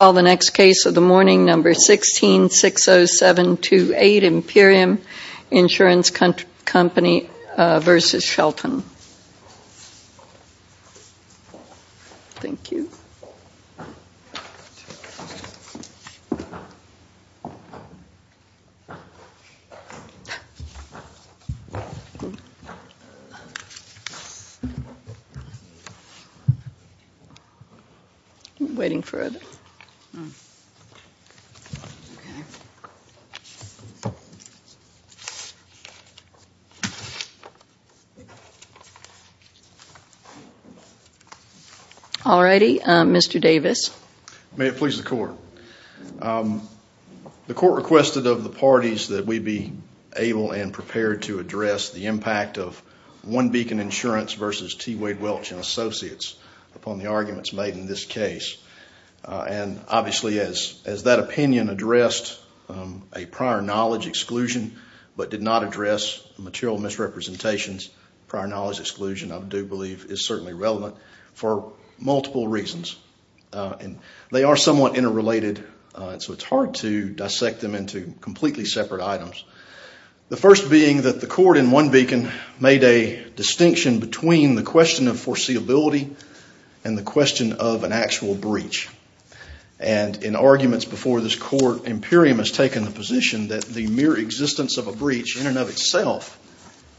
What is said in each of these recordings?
1660728 Imperium Insurance Company v. Shelton & Associates May it please the Court. The Court requested of the parties that we be able and prepared to address the impact of One Beacon Insurance v. T. Wade Welch & Associates upon the arguments made in this case. Obviously, as that opinion addressed a prior knowledge exclusion but did not address material misrepresentations, prior knowledge exclusion I do believe is certainly relevant for multiple reasons. They are somewhat interrelated, so it's hard to dissect them into completely separate items. The first being that the Court in One Beacon made a distinction between the question of foreseeability and the question of an actual breach. In arguments before this Court, Imperium has taken the position that the mere existence of a breach in and of itself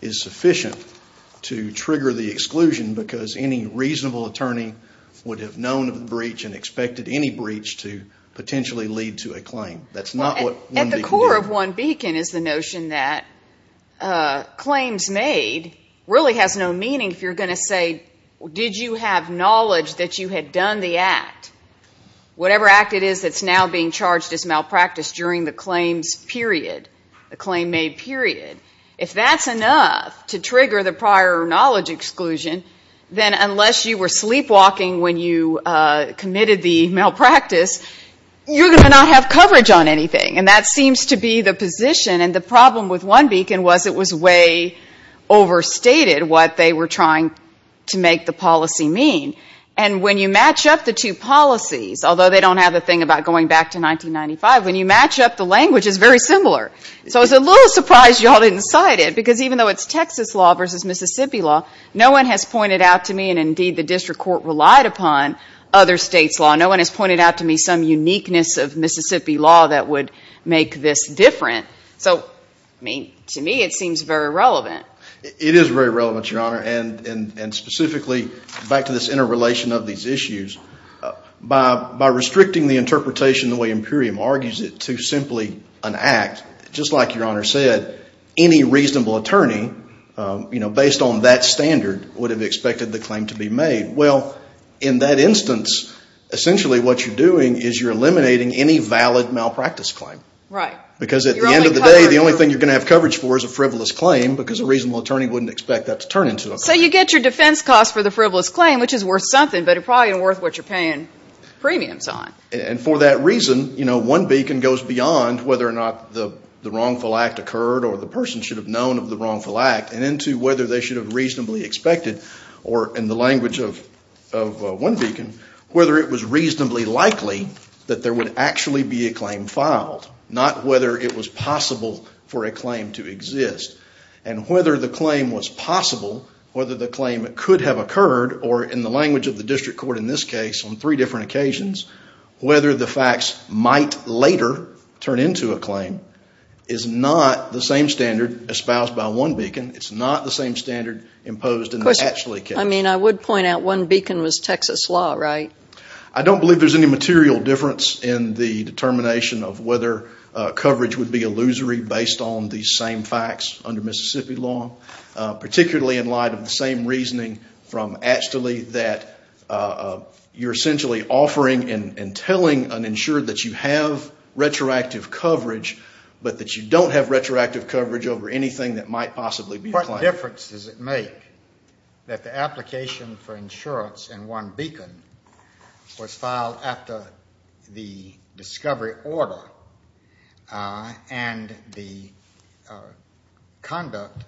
is sufficient to trigger the exclusion because any reasonable attorney would have known of the breach and expected any breach to potentially lead to a claim. That's not what One Beacon did. That claims made really has no meaning if you're going to say, did you have knowledge that you had done the act, whatever act it is that's now being charged as malpractice during the claims period, the claim made period. If that's enough to trigger the prior knowledge exclusion, then unless you were sleepwalking when you committed the malpractice, you're going to not have coverage on anything. And that seems to be the position and the problem with One Beacon was it was way overstated what they were trying to make the policy mean. And when you match up the two policies, although they don't have the thing about going back to 1995, when you match up the language, it's very similar. So it's a little surprise you all didn't cite it because even though it's Texas law versus Mississippi law, no one has pointed out to me, and indeed the District Court relied upon other states' law, no one has pointed out to me some uniqueness of Mississippi law that would make this different. So to me, it seems very relevant. It is very relevant, Your Honor. And specifically, back to this interrelation of these issues, by restricting the interpretation the way Imperium argues it to simply an act, just like Your Honor said, any reasonable attorney, based on that standard, would have expected the claim to be made. Well, in that instance, essentially what you're doing is you're eliminating any valid malpractice claim. Right. Because at the end of the day, the only thing you're going to have coverage for is a frivolous claim because a reasonable attorney wouldn't expect that to turn into a claim. So you get your defense cost for the frivolous claim, which is worth something, but it's probably worth what you're paying premiums on. And for that reason, you know, one beacon goes beyond whether or not the wrongful act occurred or the person should have known of the wrongful act and into whether they should have reasonably expected, or in the language of one beacon, whether it was reasonably likely that there would actually be a claim filed, not whether it was possible for a claim to exist. And whether the claim was possible, whether the claim could have occurred, or in the language of the district court in this case, on three different occasions, whether the facts might later turn into a claim is not the same standard espoused by one beacon. It's not the same standard imposed in the actually case. I mean, I would point out one beacon was Texas law, right? I don't believe there's any material difference in the determination of whether coverage would be illusory based on the same facts under Mississippi law, particularly in light of the same reasoning from Achtole that you're essentially offering and telling an insured that you have retroactive coverage, but that you don't have retroactive coverage over anything that might possibly be a claim. What difference does it make that the application for insurance in one beacon was filed after the discovery order and the conduct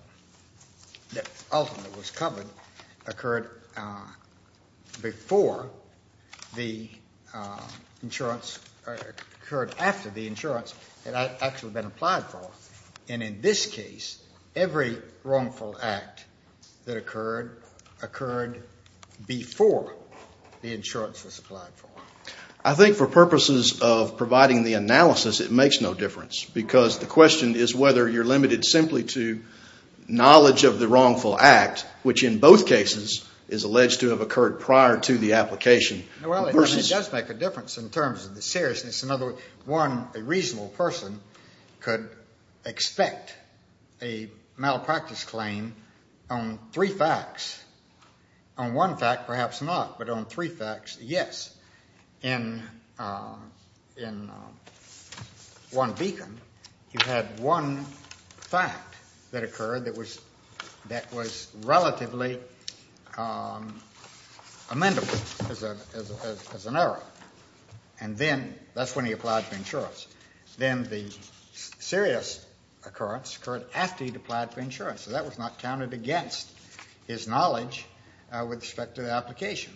that ultimately was covered occurred before the insurance, occurred after the insurance had actually been applied for? And in this case, every wrongful act that occurred, occurred before the insurance was applied for. I think for purposes of providing the analysis, it makes no difference because the question is whether you're limited simply to knowledge of the wrongful act, which in both cases is alleged to have occurred prior to the application. Well, it does make a difference in terms of the seriousness. In other words, one, a reasonable person could expect a malpractice claim on three facts. On one fact, perhaps not, but on three facts, yes. In one beacon, you had one fact that occurred that was relatively amendable as an error, and then that's when he applied for insurance. Then the serious occurrence occurred after he'd applied for insurance, so that was not counted against his knowledge with respect to the application.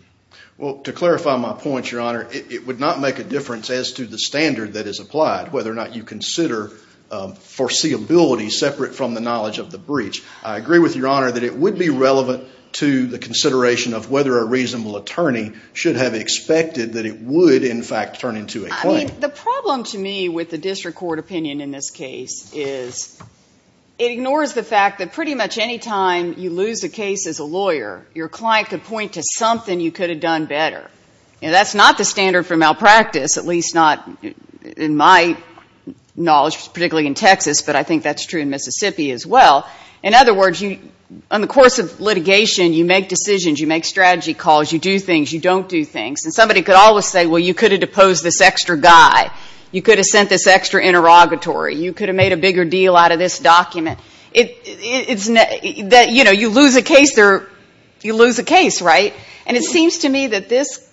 Well, to clarify my point, Your Honor, it would not make a difference as to the standard that is applied, whether or not you consider foreseeability separate from the knowledge of the breach. I agree with Your Honor that it would be relevant to the consideration of whether a reasonable attorney should have expected that it would, in fact, turn into a claim. The problem to me with the district court opinion in this case is it ignores the fact that pretty much any time you lose a case as a lawyer, your client could point to something you could have done better. That's not the standard for malpractice, at least not in my knowledge, particularly in Texas, but I think that's true in Mississippi as well. In other words, on the course of litigation, you make decisions, you make strategy calls, you do things, you don't do things, and somebody could always say, well, you could have deposed this extra guy, you could have sent this extra interrogatory, you could have made a bigger deal out of this document. You lose a case, right? It seems to me that this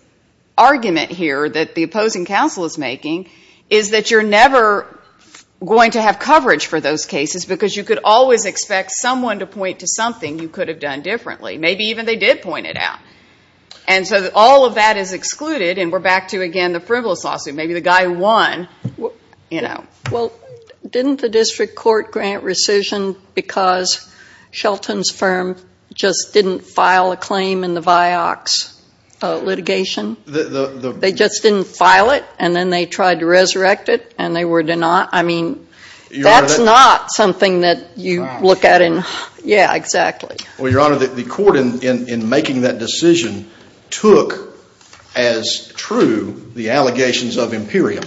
argument here that the opposing counsel is making is that you're never going to have coverage for those cases because you could always expect someone to point to something you could have done differently. Maybe even they did point it out. So all of that is excluded, and we're back to, again, the frivolous lawsuit. Maybe the guy who won. Didn't the district court grant rescission because Shelton's firm just didn't file a dox litigation? They just didn't file it, and then they tried to resurrect it, and they were denied. I mean, that's not something that you look at in, yeah, exactly. Well, Your Honor, the court, in making that decision, took as true the allegations of Imperium,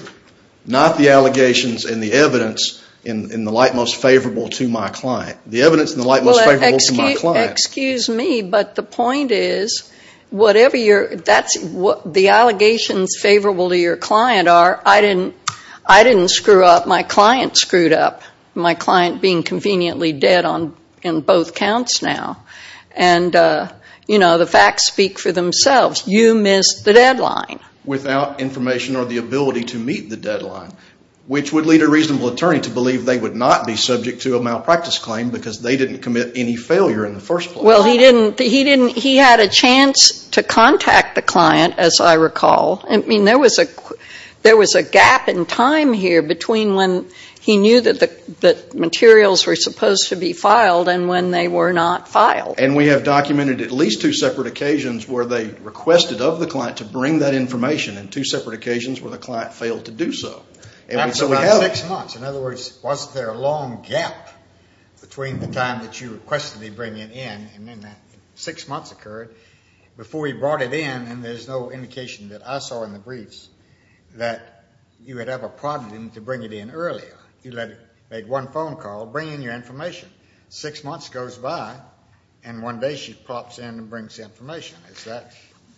not the allegations and the evidence in the light most favorable to my client. The evidence in the light most favorable to my client. Excuse me, but the point is, whatever your, that's what the allegations favorable to your client are, I didn't screw up, my client screwed up. My client being conveniently dead on both counts now. And, you know, the facts speak for themselves. You missed the deadline. Without information or the ability to meet the deadline, which would lead a reasonable attorney to believe they would not be subject to a malpractice claim because they didn't commit any failure in the first place. Well, he didn't, he didn't, he had a chance to contact the client, as I recall. I mean, there was a, there was a gap in time here between when he knew that the, that materials were supposed to be filed and when they were not filed. And we have documented at least two separate occasions where they requested of the client to bring that information, and two separate occasions where the client failed to do so. And so we have it. Six months, in other words, was there a long gap between the time that you requested he bring it in, and then that six months occurred, before he brought it in, and there's no indication that I saw in the briefs that you had ever prompted him to bring it in earlier. You let, made one phone call, bring in your information. Six months goes by, and one day she pops in and brings the information. Is that?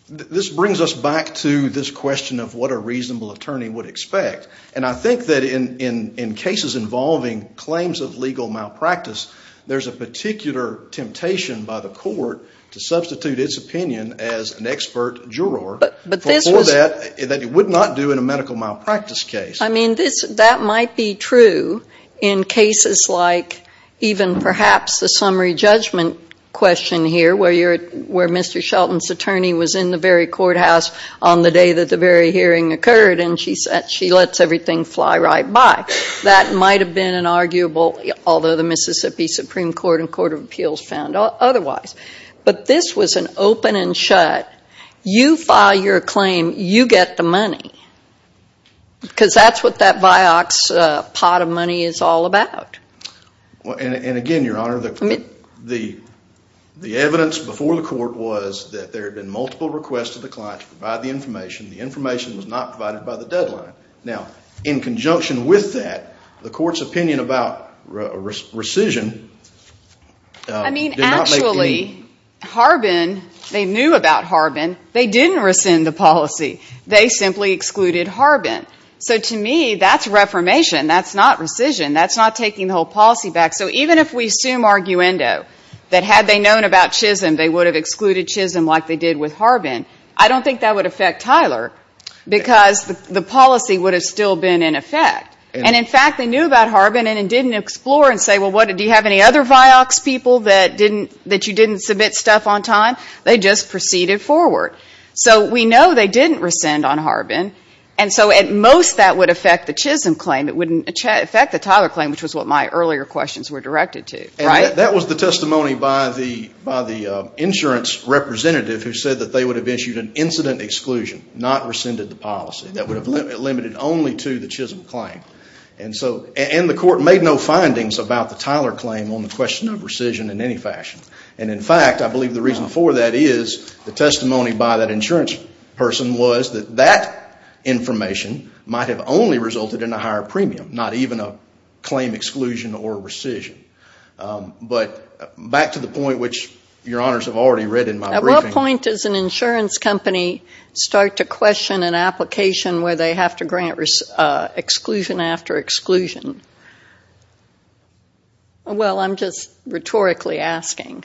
This brings us back to this question of what a reasonable attorney would expect. And I think that in cases involving claims of legal malpractice, there's a particular temptation by the court to substitute its opinion as an expert juror for that, that it would not do in a medical malpractice case. I mean, this, that might be true in cases like even perhaps the summary judgment question here where you're, where Mr. Shelton's attorney was in the very courthouse on the day that the very hearing occurred, and she said, she lets everything fly right by. That might have been an arguable, although the Mississippi Supreme Court and Court of Appeals found otherwise. But this was an open and shut, you file your claim, you get the money. Because that's what that Vioxx pot of money is all about. And again, Your Honor, the evidence before the court was that there had been multiple requests to the client to provide the information. The information was not provided by the deadline. Now, in conjunction with that, the court's opinion about rescission did not make any I mean, actually, Harbin, they knew about Harbin. They didn't rescind the policy. They simply excluded Harbin. So to me, that's reformation. That's not rescission. That's not taking the whole policy back. So even if we assume arguendo, that had they known about Chisholm, they would have excluded Chisholm like they did with Harbin. I don't think that would affect Tyler, because the policy would have still been in effect. And in fact, they knew about Harbin and didn't explore and say, well, do you have any other Vioxx people that you didn't submit stuff on time? They just proceeded forward. So we know they didn't rescind on Harbin. And so at most, that would affect the Chisholm claim. It wouldn't affect the Tyler claim, which was what my earlier questions were directed to, right? That was the testimony by the insurance representative who said that they would have issued an incident exclusion, not rescinded the policy. That would have limited only to the Chisholm claim. And so, and the court made no findings about the Tyler claim on the question of rescission in any fashion. And in fact, I believe the reason for that is the testimony by that insurance person was that that information might have only resulted in a higher premium, not even a claim exclusion or rescission. But back to the point, which your honors have already read in my briefing. At what point does an insurance company start to question an application where they have to grant exclusion after exclusion? Well, I'm just rhetorically asking.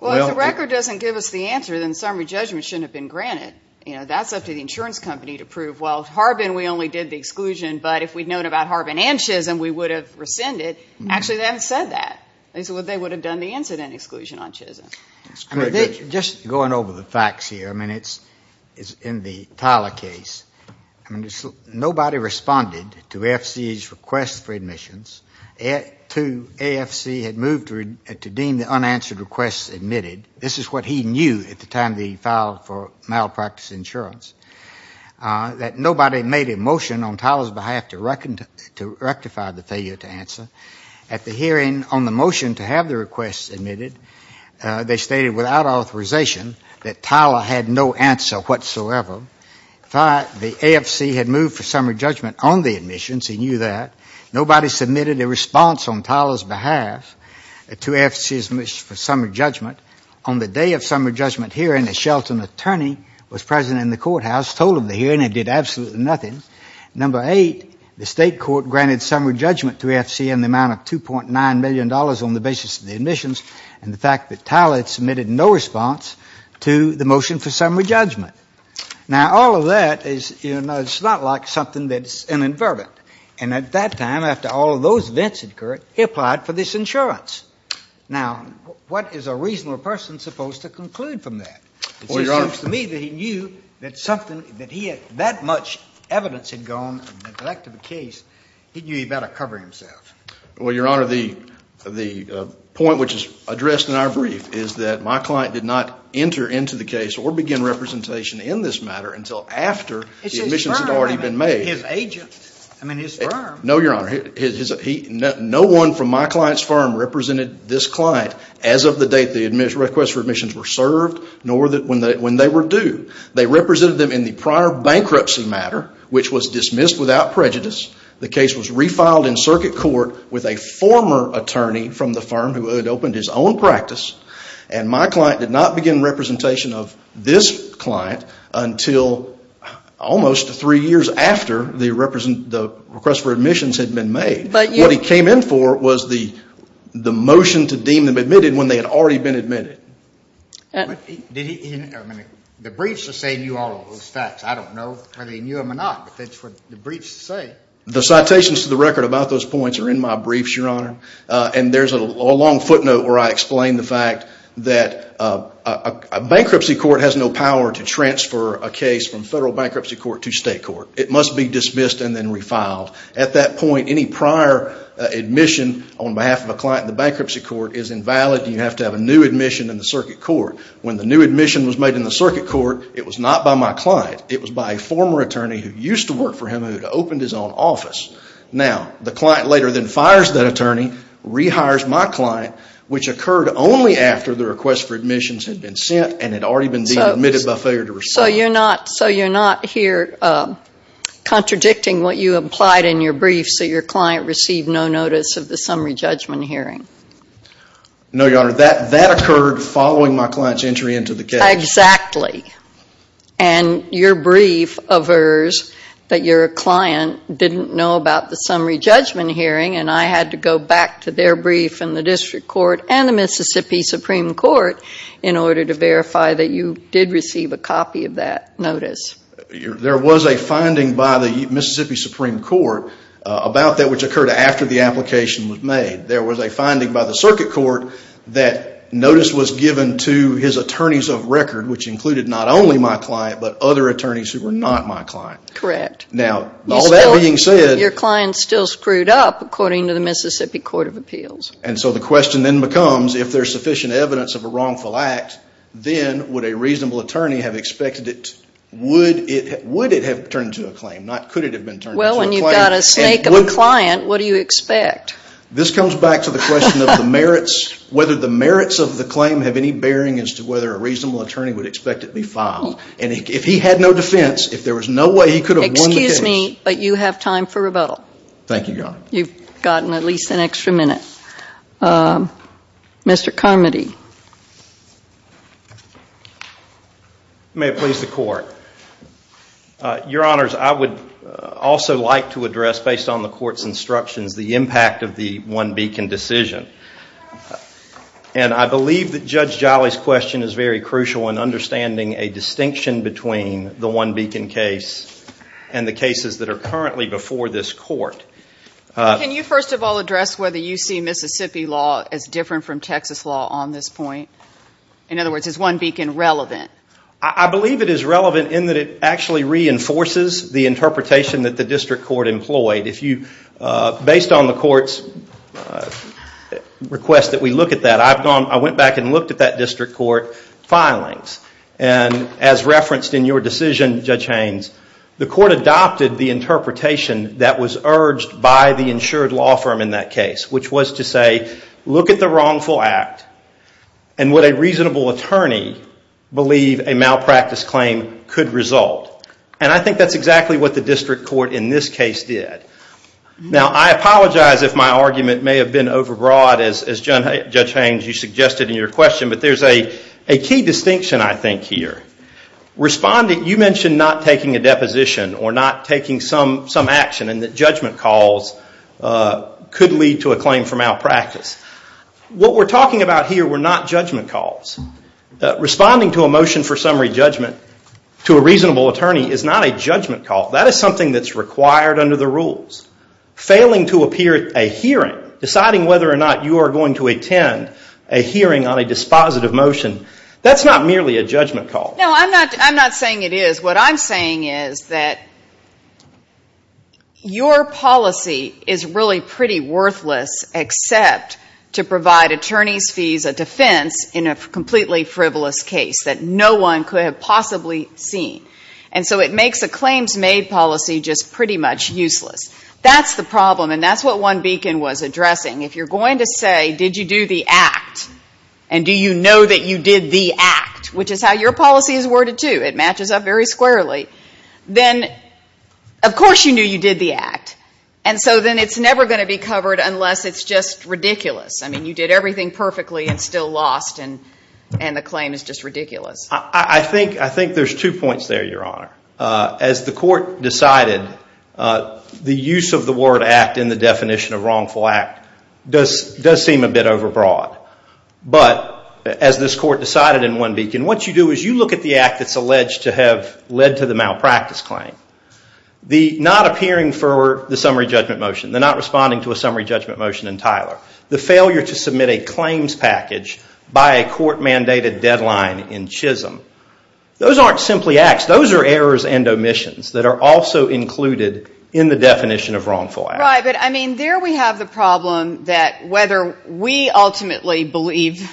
Well, if the record doesn't give us the answer, then summary judgment shouldn't have been granted. You know, that's up to the insurance company to prove, well, Harbin, we only did the exclusion, but if we'd known about Harbin and Chisholm, we would have rescinded. Actually, they haven't said that. They would have done the incident exclusion on Chisholm. Just going over the facts here, I mean, it's in the Tyler case. I mean, nobody responded to AFC's request for admissions. To AFC had moved to deem the unanswered requests admitted. This is what he knew at the time that he filed for malpractice insurance, that nobody made a motion on Tyler's behalf to rectify the failure to answer. At the hearing on the motion to have the requests admitted, they stated without authorization that Tyler had no answer whatsoever. The AFC had moved for summary judgment on the admissions. He knew that. Nobody submitted a response on Tyler's behalf to AFC's motion for summary judgment. On the day of summary judgment hearing, a Shelton attorney was present in the courthouse, told the hearing, and did absolutely nothing. Number eight, the state court granted summary judgment to AFC in the amount of $2.9 million on the basis of the admissions and the fact that Tyler had submitted no response to the motion for summary judgment. Now all of that is, you know, it's not like something that's inadvertent. And at that time, after all of those events had occurred, he applied for this insurance. Now, what is a reasonable person supposed to conclude from that? It seems to me that he knew that something that he had that much evidence had gone and neglected the case. He knew he better cover himself. Well, Your Honor, the point which is addressed in our brief is that my client did not enter into the case or begin representation in this matter until after the admissions had already been made. It's his firm. I mean, his agent. I mean, his firm. No, Your Honor. No one from my client's firm represented this client as of the date the requests for admissions were served, nor when they were due. They represented them in the prior bankruptcy matter, which was dismissed without prejudice. The case was refiled in circuit court with a former attorney from the firm who had opened his own practice. And my client did not begin representation of this client until almost three years after the request for admissions had been made. But you What he came in for was the motion to deem them admitted when they had already been admitted. Did he, I mean, the briefs are saying he knew all of those facts. I don't know whether he knew them or not, but that's what the briefs say. The citations to the record about those points are in my briefs, Your Honor. And there's a long footnote where I explain the fact that a bankruptcy court has no power to transfer a case from federal bankruptcy court to state court. It must be dismissed and then refiled. At that point, any prior admission on behalf of a client in the bankruptcy court is invalid. You have to have a new admission in the circuit court. When the new admission was made in the circuit court, it was not by my client. It was by a former attorney who used to work for him and had opened his own office. Now, the client later then fires that attorney, rehires my client, which occurred only after the request for admissions had been sent and had already been deemed admitted by failure to respond. So you're not here contradicting what you implied in your brief so your client received no notice of the summary judgment hearing? No, Your Honor. That occurred following my client's entry into the case. Exactly. And your brief averts that your client didn't know about the summary judgment hearing and I had to go back to their brief in the district court and the Mississippi Supreme Court in order to verify that you did receive a copy of that notice. There was a finding by the Mississippi Supreme Court about that which occurred after the circuit court that notice was given to his attorneys of record which included not only my client but other attorneys who were not my client. Correct. Now, all that being said... Your client still screwed up according to the Mississippi Court of Appeals. And so the question then becomes, if there's sufficient evidence of a wrongful act, then would a reasonable attorney have expected it? Would it have turned into a claim, not could it have been turned into a claim? Well, when you've got a snake of a client, what do you expect? This comes back to the question of the merits, whether the merits of the claim have any bearing as to whether a reasonable attorney would expect it to be filed. And if he had no defense, if there was no way he could have won the case... Excuse me, but you have time for rebuttal. Thank you, Your Honor. You've gotten at least an extra minute. Mr. Carmody. May it please the court. Your Honors, I would also like to address, based on the court's instructions, the impact of the One Beacon decision. And I believe that Judge Jolly's question is very crucial in understanding a distinction between the One Beacon case and the cases that are currently before this court. Can you first of all address whether you see Mississippi law as different from Texas law on this point? In other words, is One Beacon relevant? I believe it is relevant in that it actually reinforces the interpretation that the district court employed. Based on the court's request that we look at that, I went back and looked at that district court filings. And as referenced in your decision, Judge Haynes, the court adopted the interpretation that was urged by the insured law firm in that case, which was to say, look at the wrongful act and would a reasonable attorney believe a malpractice claim could result. And I think that's exactly what the district court in this case did. Now I apologize if my argument may have been overbroad, as Judge Haynes, you suggested in your question. But there's a key distinction, I think, here. You mentioned not taking a deposition or not taking some action and that judgment calls could lead to a claim for malpractice. What we're talking about here were not judgment calls. Responding to a motion for summary judgment to a reasonable attorney is not a judgment call. That is something that's required under the rules. Failing to appear at a hearing, deciding whether or not you are going to attend a hearing on a dispositive motion, that's not merely a judgment call. No, I'm not saying it is. What I'm saying is that your policy is really pretty worthless except to provide attorney's fees of defense in a completely frivolous case that no one could have possibly seen. And so it makes a claims made policy just pretty much useless. That's the problem and that's what one beacon was addressing. If you're going to say, did you do the act and do you know that you did the act, which is how your policy is worded too, it matches up very squarely, then of course you knew you did the act. And so then it's never going to be covered unless it's just ridiculous. I mean, you did everything perfectly and still lost and the claim is just ridiculous. I think there's two points there, Your Honor. As the court decided, the use of the word act in the definition of wrongful act does seem a bit overbroad. But as this court decided in one beacon, what you do is you look at the act that's alleged to have led to the not responding to a summary judgment motion in Tyler, the failure to submit a claims package by a court mandated deadline in Chisholm. Those aren't simply acts. Those are errors and omissions that are also included in the definition of wrongful act. Right, but I mean, there we have the problem that whether we ultimately believe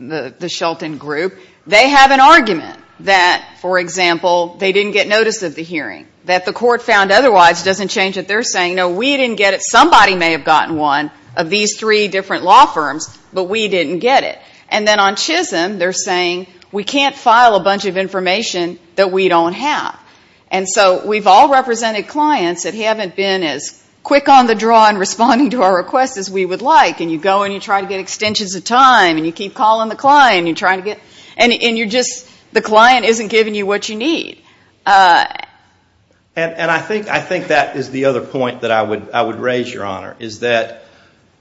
the Shelton group, they have an argument that, for example, they didn't get notice of the hearing, that the court found otherwise doesn't change that they're saying, no, we didn't get it. Somebody may have gotten one of these three different law firms, but we didn't get it. And then on Chisholm, they're saying, we can't file a bunch of information that we don't have. And so we've all represented clients that haven't been as quick on the draw in responding to our requests as we would like. And you go and you try to get extensions of time and you keep calling the client and you're trying to get, and you're just, the client isn't giving you what you need. And I think that is the other point that I would raise, Your Honor, is that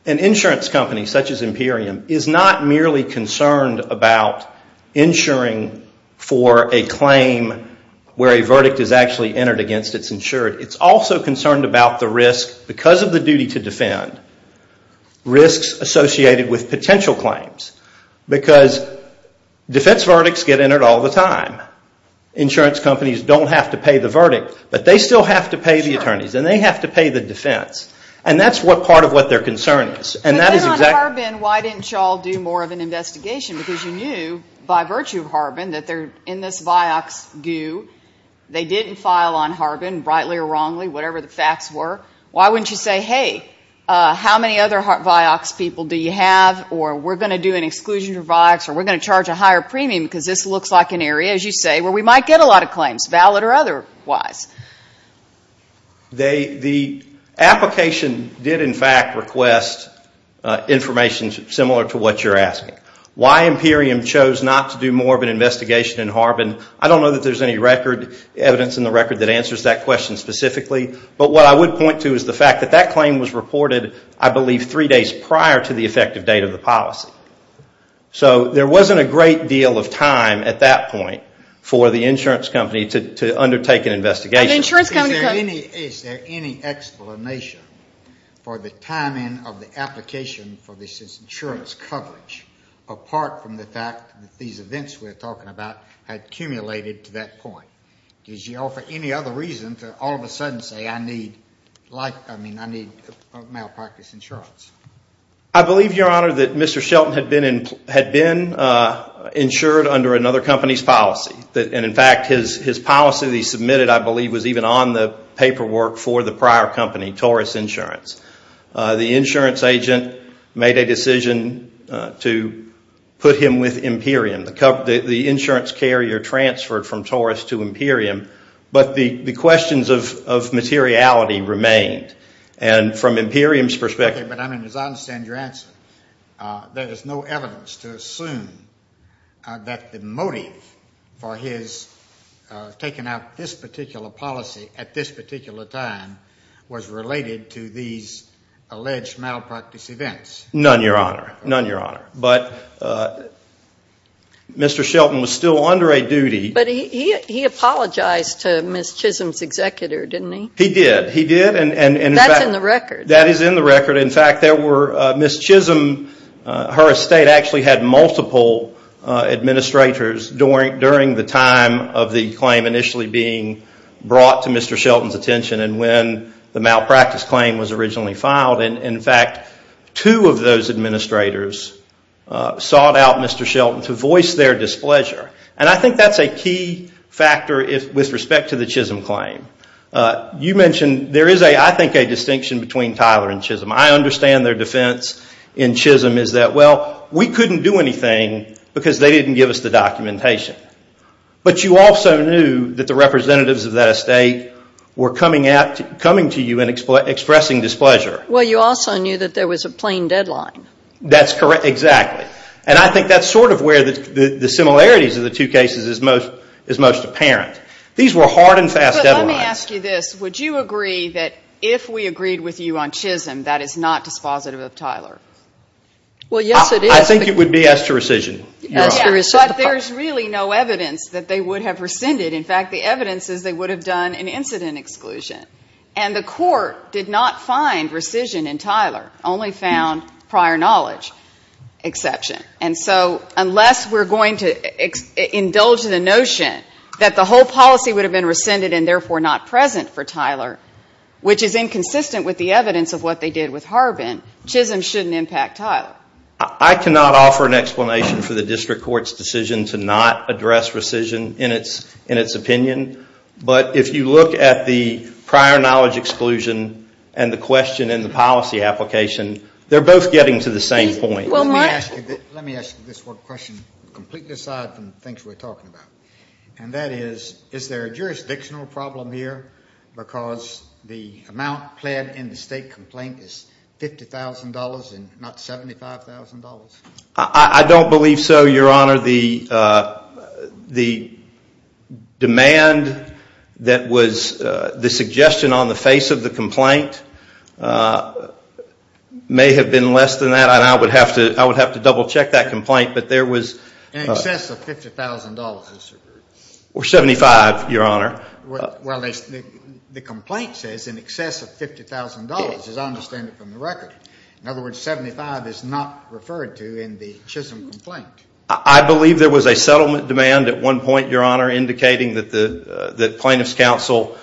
an insurance company such as Imperium is not merely concerned about insuring for a claim where a verdict is actually entered against its insured. It's also concerned about the risk, because of the duty to defend, risks associated with potential claims. Because defense verdicts get entered all the time. Insurance companies don't have to pay the verdict, but they still have to pay the attorneys. And they have to pay the defense. And that's what part of what their concern is. And then on Harbin, why didn't you all do more of an investigation? Because you knew, by virtue of Harbin, that they're in this Vioxx goo. They didn't file on Harbin, rightly or wrongly, whatever the facts were. Why wouldn't you say, hey, how many other Vioxx people do you have, or we're going to do an exclusion for Vioxx, or we're going to charge a higher premium, because this looks like an area, as you say, where we might get a lot of claims, valid or otherwise? The application did, in fact, request information similar to what you're asking. Why Imperium chose not to do more of an investigation in Harbin, I don't know that there's any record, evidence in the record, that answers that question specifically. But what I would point to is the fact that that claim was reported, I believe, three days prior to the effective date of the policy. So there wasn't a great deal of time at that point for the insurance company to undertake an investigation. Is there any explanation for the timing of the application for this insurance coverage, apart from the fact that these events we're talking about had cumulated to that point? Did you offer any other reason to all of a sudden say, I need malpractice insurance? I believe, Your Honor, that Mr. Shelton had been insured under another company's policy. In fact, his policy that he submitted, I believe, was even on the paperwork for the prior company, Taurus Insurance. The insurance agent made a decision to put him with Imperium. The insurance carrier transferred from Taurus to Imperium, but the questions of materiality remained. From Imperium's perspective... But as I understand your answer, there is no evidence to assume that the motive for his taking out this particular policy at this particular time was related to these alleged malpractice events. None, Your Honor. None, Your Honor. But Mr. Shelton was still under a duty... But he apologized to Ms. Chisholm's executor, didn't he? He did. He did. That's in the record. That is in the record. In fact, Ms. Chisholm, her estate actually had multiple administrators during the time of the claim initially being brought to Mr. Shelton's attention and when the malpractice claim was originally filed. In fact, two of those administrators sought out Mr. Shelton to voice their displeasure. And I think that's a key factor with respect to the Chisholm claim. You mentioned there is, I think, a distinction between Tyler and Chisholm. I understand their defense in Chisholm is that, well, we couldn't do anything because they didn't give us the documentation. But you also knew that the representatives of that estate were coming to you and expressing displeasure. Well, you also knew that there was a plain deadline. That's correct. Exactly. And I think that's sort of where the similarities of the two are apparent. These were hard and fast deadlines. But let me ask you this. Would you agree that if we agreed with you on Chisholm, that is not dispositive of Tyler? Well, yes, it is. I think it would be as to rescission. As to rescission. But there's really no evidence that they would have rescinded. In fact, the evidence is they would have done an incident exclusion. And the court did not find rescission in Tyler, only found prior knowledge exception. And so unless we're going to indulge the notion that the whole policy would have been rescinded and therefore not present for Tyler, which is inconsistent with the evidence of what they did with Harbin, Chisholm shouldn't impact Tyler. I cannot offer an explanation for the district court's decision to not address rescission in its opinion. But if you look at the prior knowledge exclusion and the question in the policy application, they're both getting to the same point. Well, let me ask you this one question completely aside from the things we're talking about. And that is, is there a jurisdictional problem here because the amount pled in the state complaint is $50,000 and not $75,000? I don't believe so, Your Honor. The demand that was the suggestion on the face of the I would have to double check that complaint, but there was In excess of $50,000, it's referred to. Or $75,000, Your Honor. The complaint says in excess of $50,000, as I understand it from the record. In other words, $75,000 is not referred to in the Chisholm complaint. I believe there was a settlement demand at one point, Your Honor, indicating that plaintiff's counsel,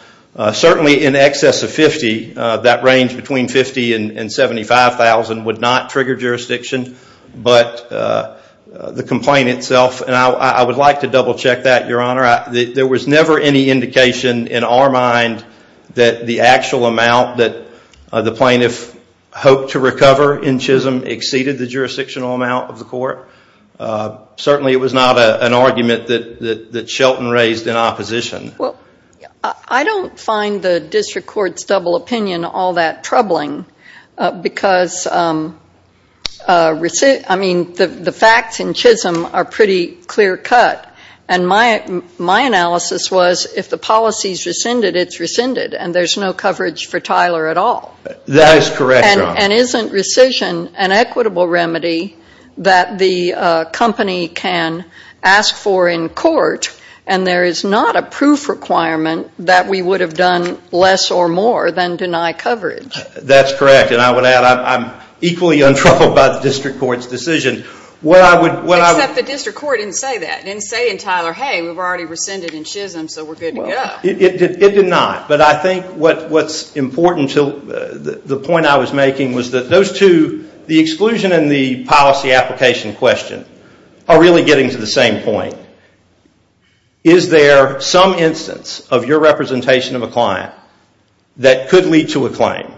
certainly in excess of $50,000, that range between $50,000 and $75,000 would not trigger jurisdiction. But the complaint itself, and I would like to double check that, Your Honor. There was never any indication in our mind that the actual amount that the plaintiff hoped to recover in Chisholm exceeded the jurisdictional amount of the court. Certainly it was not an argument that Shelton raised in opposition. I don't find the district court's double opinion all that troubling because the facts in Chisholm are pretty clear cut. And my analysis was, if the policy is rescinded, it's rescinded, and there's no coverage for Tyler at all. That is correct, Your Honor. And isn't rescission an equitable remedy that the company can ask for in court, and there is not a proof requirement that we would have done less or more than deny coverage? That's correct, and I would add I'm equally untroubled by the district court's decision. Except the district court didn't say that. It didn't say in Tyler, hey, we've already rescinded in Chisholm, so we're good to go. It did not. But I think what's important to the point I was making was that those two, the exclusion and the policy application question, are really getting to the same point. Is there some instance of your representation of a client that could lead to a claim?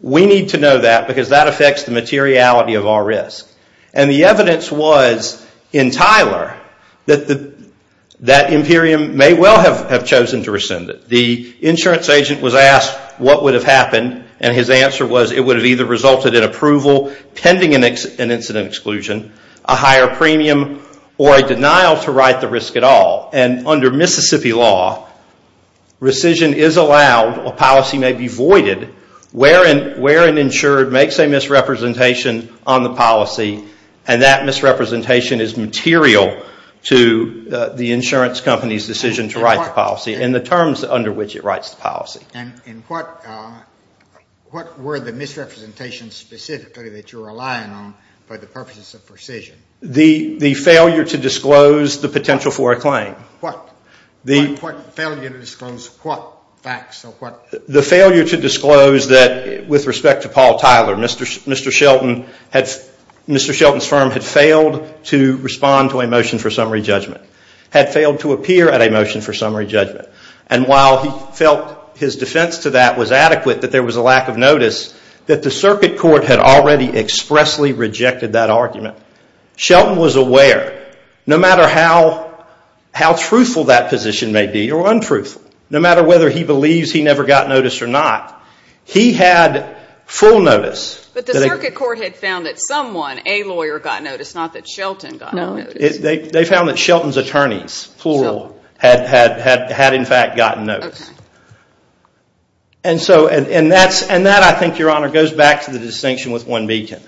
We need to know that because that affects the materiality of our risk. And the evidence was in Tyler that Imperium may well have chosen to rescind it. The insurance agent was asked what would have happened, and his answer was it would have either resulted in approval pending an incident exclusion, a higher premium, or a denial to write the risk at all. And under Mississippi law, rescission is allowed, a policy may be voided, where an insured makes a misrepresentation on the policy, and that misrepresentation is material to the insurance company's decision to write the policy and the terms under which it writes the policy. And what were the misrepresentations specifically that you're relying on for the purposes of rescission? The failure to disclose the potential for a claim. What? What failure to disclose what facts? The failure to disclose that, with respect to Paul Tyler, Mr. Shelton's firm had failed to respond to a motion for summary judgment, had failed to appear at a motion for summary judgment. And while he felt his defense to that was adequate, that there was a lack of notice, that the circuit court had already expressly rejected that argument. Shelton was aware, no matter how truthful that position may be, or untruthful, no matter whether he believes he never got notice or not, he had full notice. But the circuit court had found that someone, a lawyer, got notice, not that Shelton got notice. They found that Shelton's attorneys, plural, had in fact gotten notice. And that, I think, Your Honor, goes back to the distinction with one beacon.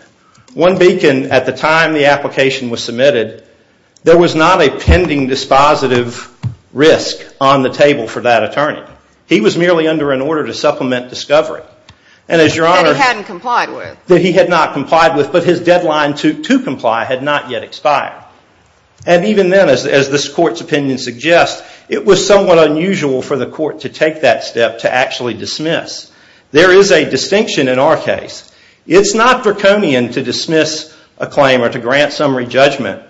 One beacon, at the time the application was submitted, there was not a pending dispositive risk on the table for that attorney. He was merely under an order to supplement discovery. That he hadn't complied with. That he had not complied with, but his deadline to comply had not yet expired. And even then, as this court's opinion suggests, it was somewhat unusual for the court to take that step to actually dismiss. There is a distinction in our case. It's not draconian to dismiss a claim or to grant summary judgment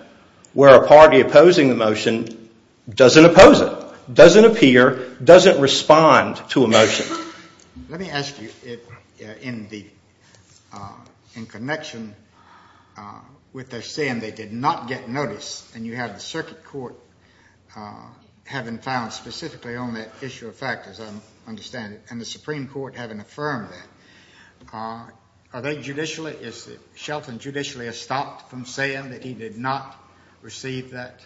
where a party opposing the motion doesn't oppose it, doesn't appear, doesn't respond to a motion. Let me ask you, in connection with their saying they did not get notice, and you have the circuit court having found specifically on that issue of fact, as I understand it, and the Supreme Court having affirmed that, are they judicially, is Shelton judicially estopped from saying that he did not receive that?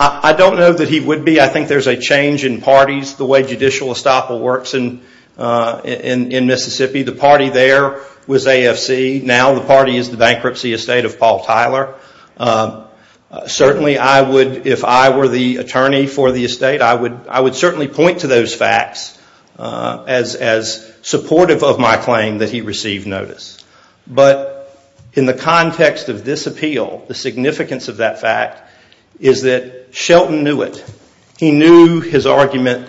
I don't know that he would be. I think there's a change in parties, the way judicial estoppel works in Mississippi. The party there was AFC. Now the party is the bankruptcy estate of Paul Tyler. Certainly, if I were the attorney for the estate, I would certainly point to those facts as supportive of my claim that he received notice. But in the context of this appeal, the significance of that fact is that Shelton knew it. He knew his argument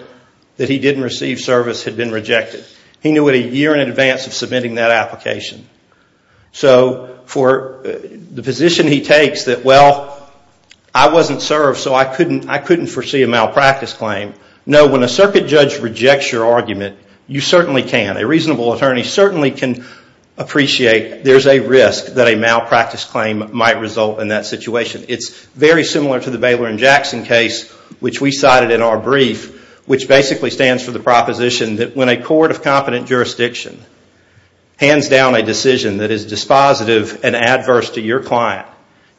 that he didn't receive service had been rejected. He knew it a year in advance of submitting that application. So for the position he takes that, well, I wasn't served, so I couldn't foresee a malpractice claim. No, when a circuit judge rejects your argument, you certainly can. A reasonable attorney certainly can appreciate there's a risk that a malpractice claim might result in that situation. It's very similar to the Baylor and Jackson case, which we cited in our brief, which basically stands for the proposition that when a court of competent jurisdiction hands down a decision that is dispositive and adverse to your client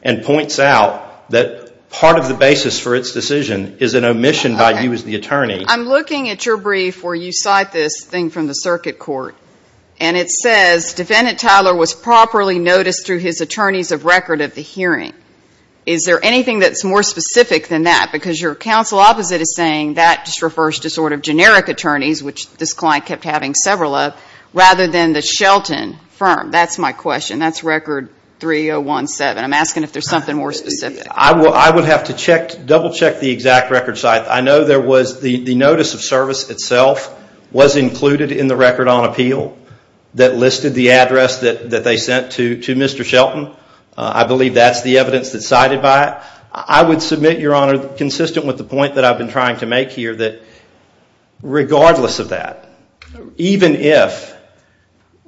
and points out that part of the basis for its decision is an omission by you as the attorney. I'm looking at your brief where you cite this thing from the circuit court, and it says defendant Tyler was properly noticed through his attorney's record of the hearing. Is there anything that's more specific than that? Because your counsel opposite is saying that just refers to sort of generic attorneys, which this client kept having several of, rather than the Shelton firm. That's my question. That's record 3017. I'm asking if there's something more specific. I would have to double-check the exact record cite. I know there was the notice of service itself was included in the record on appeal that listed the address that they sent to Mr. Shelton. I believe that's the evidence that's cited by it. I would submit, Your Honor, consistent with the point that I've been trying to make here, that regardless of that, even if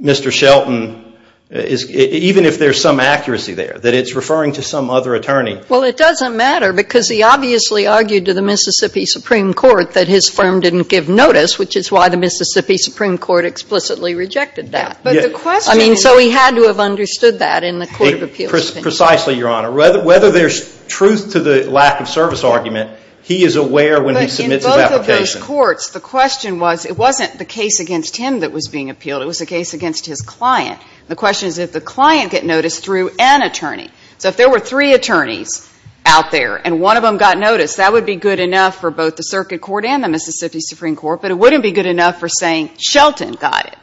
Mr. Shelton is, even if there's some accuracy there, that it's referring to some other attorney. Well, it doesn't matter, because he obviously argued to the Mississippi Supreme Court that his firm didn't give notice, which is why the Mississippi Supreme Court explicitly rejected that. I mean, so he had to have understood that in the court of appeals. Precisely, Your Honor. Whether there's truth to the lack of service argument, he is aware when he submits his application. But in both of those courts, the question was, it wasn't the case against him that was being appealed. It was the case against his client. The question is, did the client get noticed through an attorney? So if there were three attorneys out there and one of them got noticed, that would be good enough for both the circuit court and the Mississippi Supreme Court, but it wouldn't be good enough for saying Shelton got it.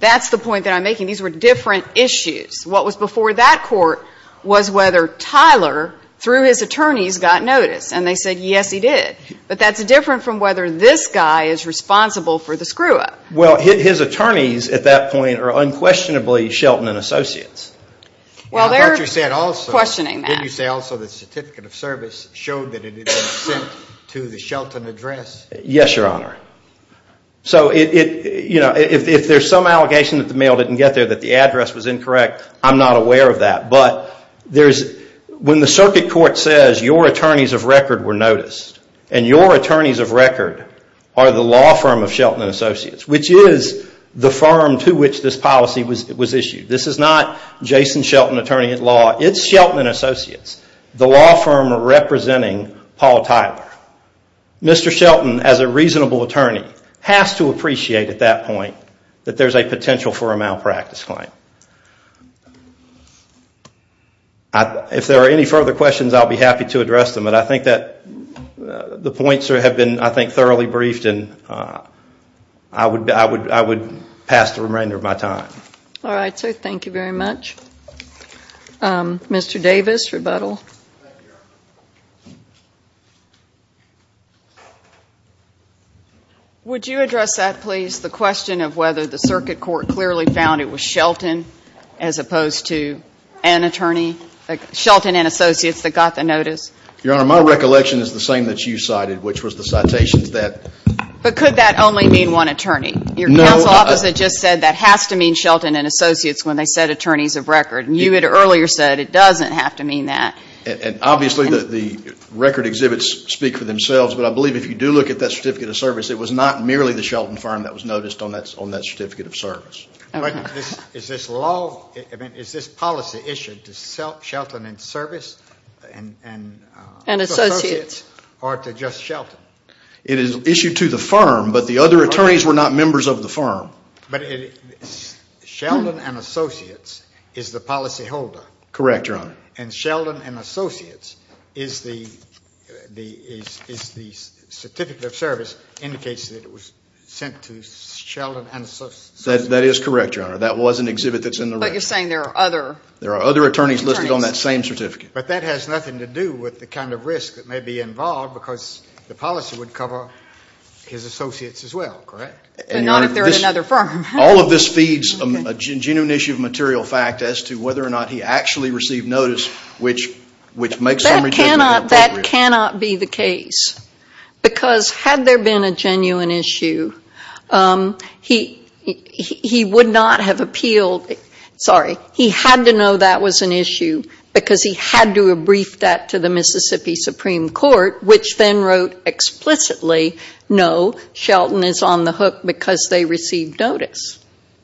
That's the point that I'm making. These were different issues. What was before that court was whether Tyler, through his attorneys, got noticed. And they said, yes, he did. But that's different from whether this guy is responsible for the screw-up. Well, his attorneys at that point are unquestionably Shelton and Associates. Well, they're questioning that. Didn't you say also the certificate of service showed that it had been sent to the Shelton address? Yes, Your Honor. So if there's some allegation that the mail didn't get there, that the address was incorrect, I'm not aware of that. But when the circuit court says your attorneys of record were noticed, and your attorneys of record are the law firm of Shelton and Associates, which is the firm to which this policy was issued, this is not Jason Shelton, attorney at law. It's Shelton and Associates, the law firm representing Paul Tyler. Mr. Shelton, as a reasonable attorney, has to appreciate at that point that there's a potential for a malpractice claim. If there are any further questions, I'll be happy to address them. But I think that the points have been, I think, thoroughly briefed, and I would pass the remainder of my time. All right, so thank you very much. Mr. Davis, rebuttal. Would you address that, please, the question of whether the circuit court clearly found it was Shelton, as opposed to an attorney, Shelton and Associates that got the notice? Your Honor, my recollection is the same that you cited, which was the citations that – But could that only mean one attorney? Your counsel officer just said that has to mean Shelton and Associates when they said attorneys of record. And you had earlier said it doesn't have to mean that. And obviously the record exhibits speak for themselves, but I believe if you do look at that certificate of service, it was not merely the Shelton firm that was noticed on that certificate of service. But is this policy issued to Shelton and Associates or to just Shelton? It is issued to the firm, but the other attorneys were not members of the firm. But Shelton and Associates is the policyholder. Correct, Your Honor. And Shelton and Associates is the certificate of service indicates that it was sent to Shelton and Associates. That is correct, Your Honor. That was an exhibit that's in the record. But you're saying there are other attorneys. There are other attorneys listed on that same certificate. But that has nothing to do with the kind of risk that may be involved, because the policy would cover his associates as well, correct? But not if they're at another firm. All of this feeds a genuine issue of material fact as to whether or not he actually received notice, which makes some rejection of the program. That cannot be the case. Because had there been a genuine issue, he would not have appealed. Sorry, he had to know that was an issue because he had to have briefed that to the Mississippi Supreme Court, which then wrote explicitly, no, Shelton is on the hook because they received notice.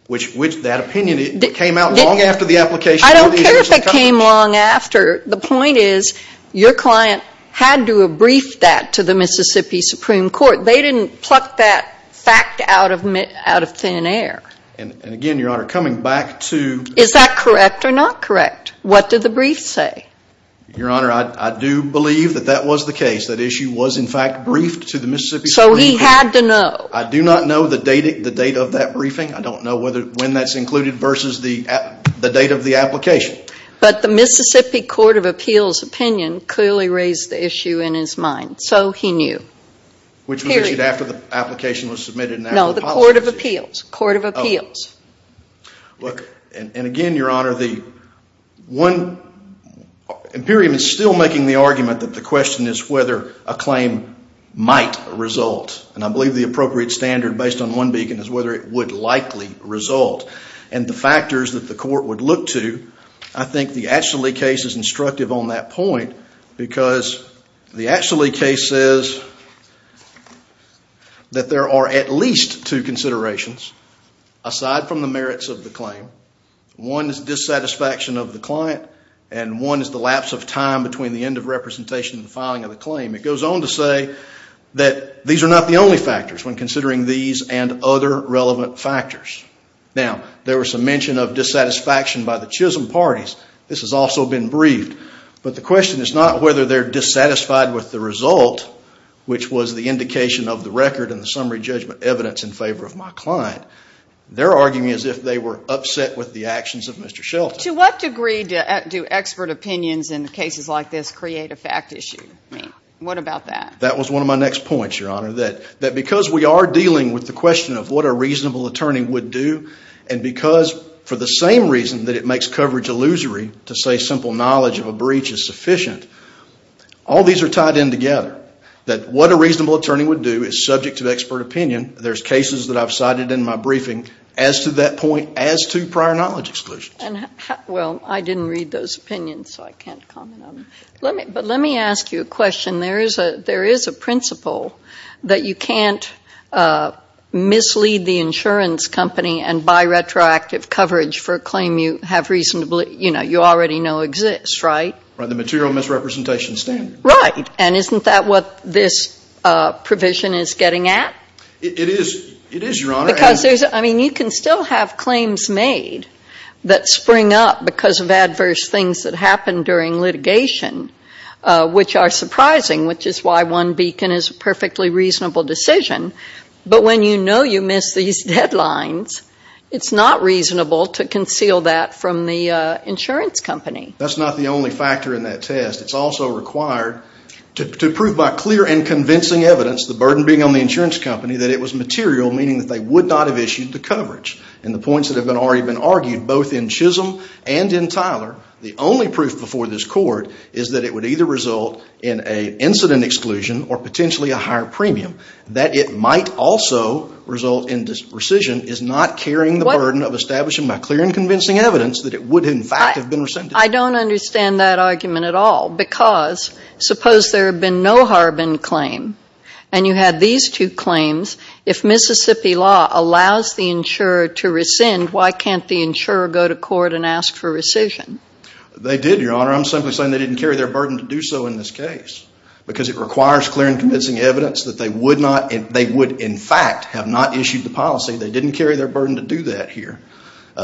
Which that opinion came out long after the application. I don't care if it came long after. The point is your client had to have briefed that to the Mississippi Supreme Court. They didn't pluck that fact out of thin air. And again, Your Honor, coming back to- Is that correct or not correct? What did the brief say? Your Honor, I do believe that that was the case. That issue was, in fact, briefed to the Mississippi Supreme Court. So he had to know. I do not know the date of that briefing. I don't know when that's included versus the date of the application. But the Mississippi Court of Appeals opinion clearly raised the issue in his mind. So he knew. Which was issued after the application was submitted and after the policy. Court of Appeals. Court of Appeals. Look, and again, Your Honor, the one- Imperium is still making the argument that the question is whether a claim might result. And I believe the appropriate standard based on one beacon is whether it would likely result. And the factors that the court would look to, I think the Atchley case is instructive on that point because the Atchley case says that there are at least two considerations aside from the merits of the claim. One is dissatisfaction of the client. And one is the lapse of time between the end of representation and filing of the claim. It goes on to say that these are not the only factors when considering these and other relevant factors. Now, there was some mention of dissatisfaction by the Chisholm parties. This has also been briefed. But the question is not whether they're dissatisfied with the result, which was the indication of the record and the summary judgment evidence in favor of my client. They're arguing as if they were upset with the actions of Mr. Shelton. To what degree do expert opinions in cases like this create a fact issue? I mean, what about that? That was one of my next points, Your Honor, that because we are dealing with the question of what a reasonable attorney would do and because for the same reason that it makes coverage illusory to say simple knowledge of a breach is sufficient, all these are tied in together, that what a reasonable attorney would do is subject to expert opinion. There's cases that I've cited in my briefing as to that point as to prior knowledge exclusions. Well, I didn't read those opinions, so I can't comment on them. But let me ask you a question. There is a principle that you can't mislead the insurance company and buy retroactive coverage for a claim you have reasonably, you know, you already know exists, right? Right. The material misrepresentation standard. Right. And isn't that what this provision is getting at? It is. It is, Your Honor. Because there's, I mean, you can still have claims made that spring up because of adverse things that happen during litigation, which are surprising, which is why one beacon is a perfectly reasonable decision. But when you know you missed these deadlines, it's not reasonable to conceal that from the insurance company. That's not the only factor in that test. It's also required to prove by clear and convincing evidence, the burden being on the insurance company, that it was material, meaning that they would not have issued the coverage. And the points that have already been argued, both in Chisholm and in Tyler, the only proof before this Court is that it would either result in an incident exclusion or potentially a higher premium. That it might also result in rescission is not carrying the burden of establishing by clear and convincing evidence that it would in fact have been rescinded. I don't understand that argument at all. Because suppose there had been no Harbin claim and you had these two claims, if Mississippi law allows the insurer to rescind, why can't the insurer go to court and ask for rescission? They did, Your Honor. I'm simply saying they didn't carry their burden to do so in this case. Because it requires clear and convincing evidence that they would in fact have not issued the policy. They didn't carry their burden to do that here.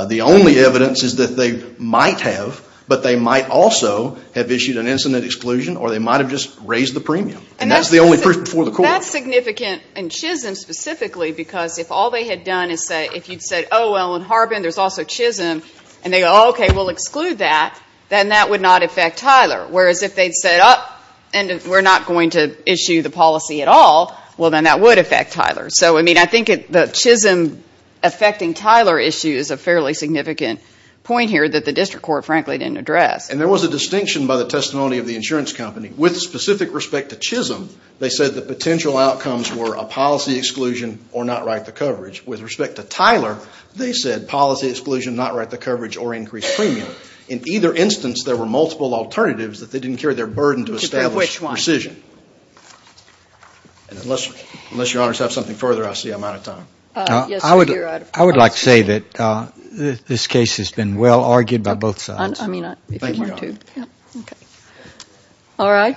The only evidence is that they might have, but they might also have issued an incident exclusion or they might have just raised the premium. And that's the only proof before the Court. And that's significant in Chisholm specifically because if all they had done is say, if you'd said, oh, well, in Harbin there's also Chisholm, and they go, oh, okay, we'll exclude that, then that would not affect Tyler. Whereas if they'd said, oh, and we're not going to issue the policy at all, well, then that would affect Tyler. So, I mean, I think the Chisholm affecting Tyler issue is a fairly significant point here that the district court, frankly, didn't address. And there was a distinction by the testimony of the insurance company. With specific respect to Chisholm, they said the potential outcomes were a policy exclusion or not write the coverage. With respect to Tyler, they said policy exclusion, not write the coverage, or increase premium. In either instance, there were multiple alternatives that they didn't carry their burden to establish precision. Unless Your Honors have something further, I see I'm out of time. I would like to say that this case has been well argued by both sides. Thank you, Your Honor. Thank you. All right.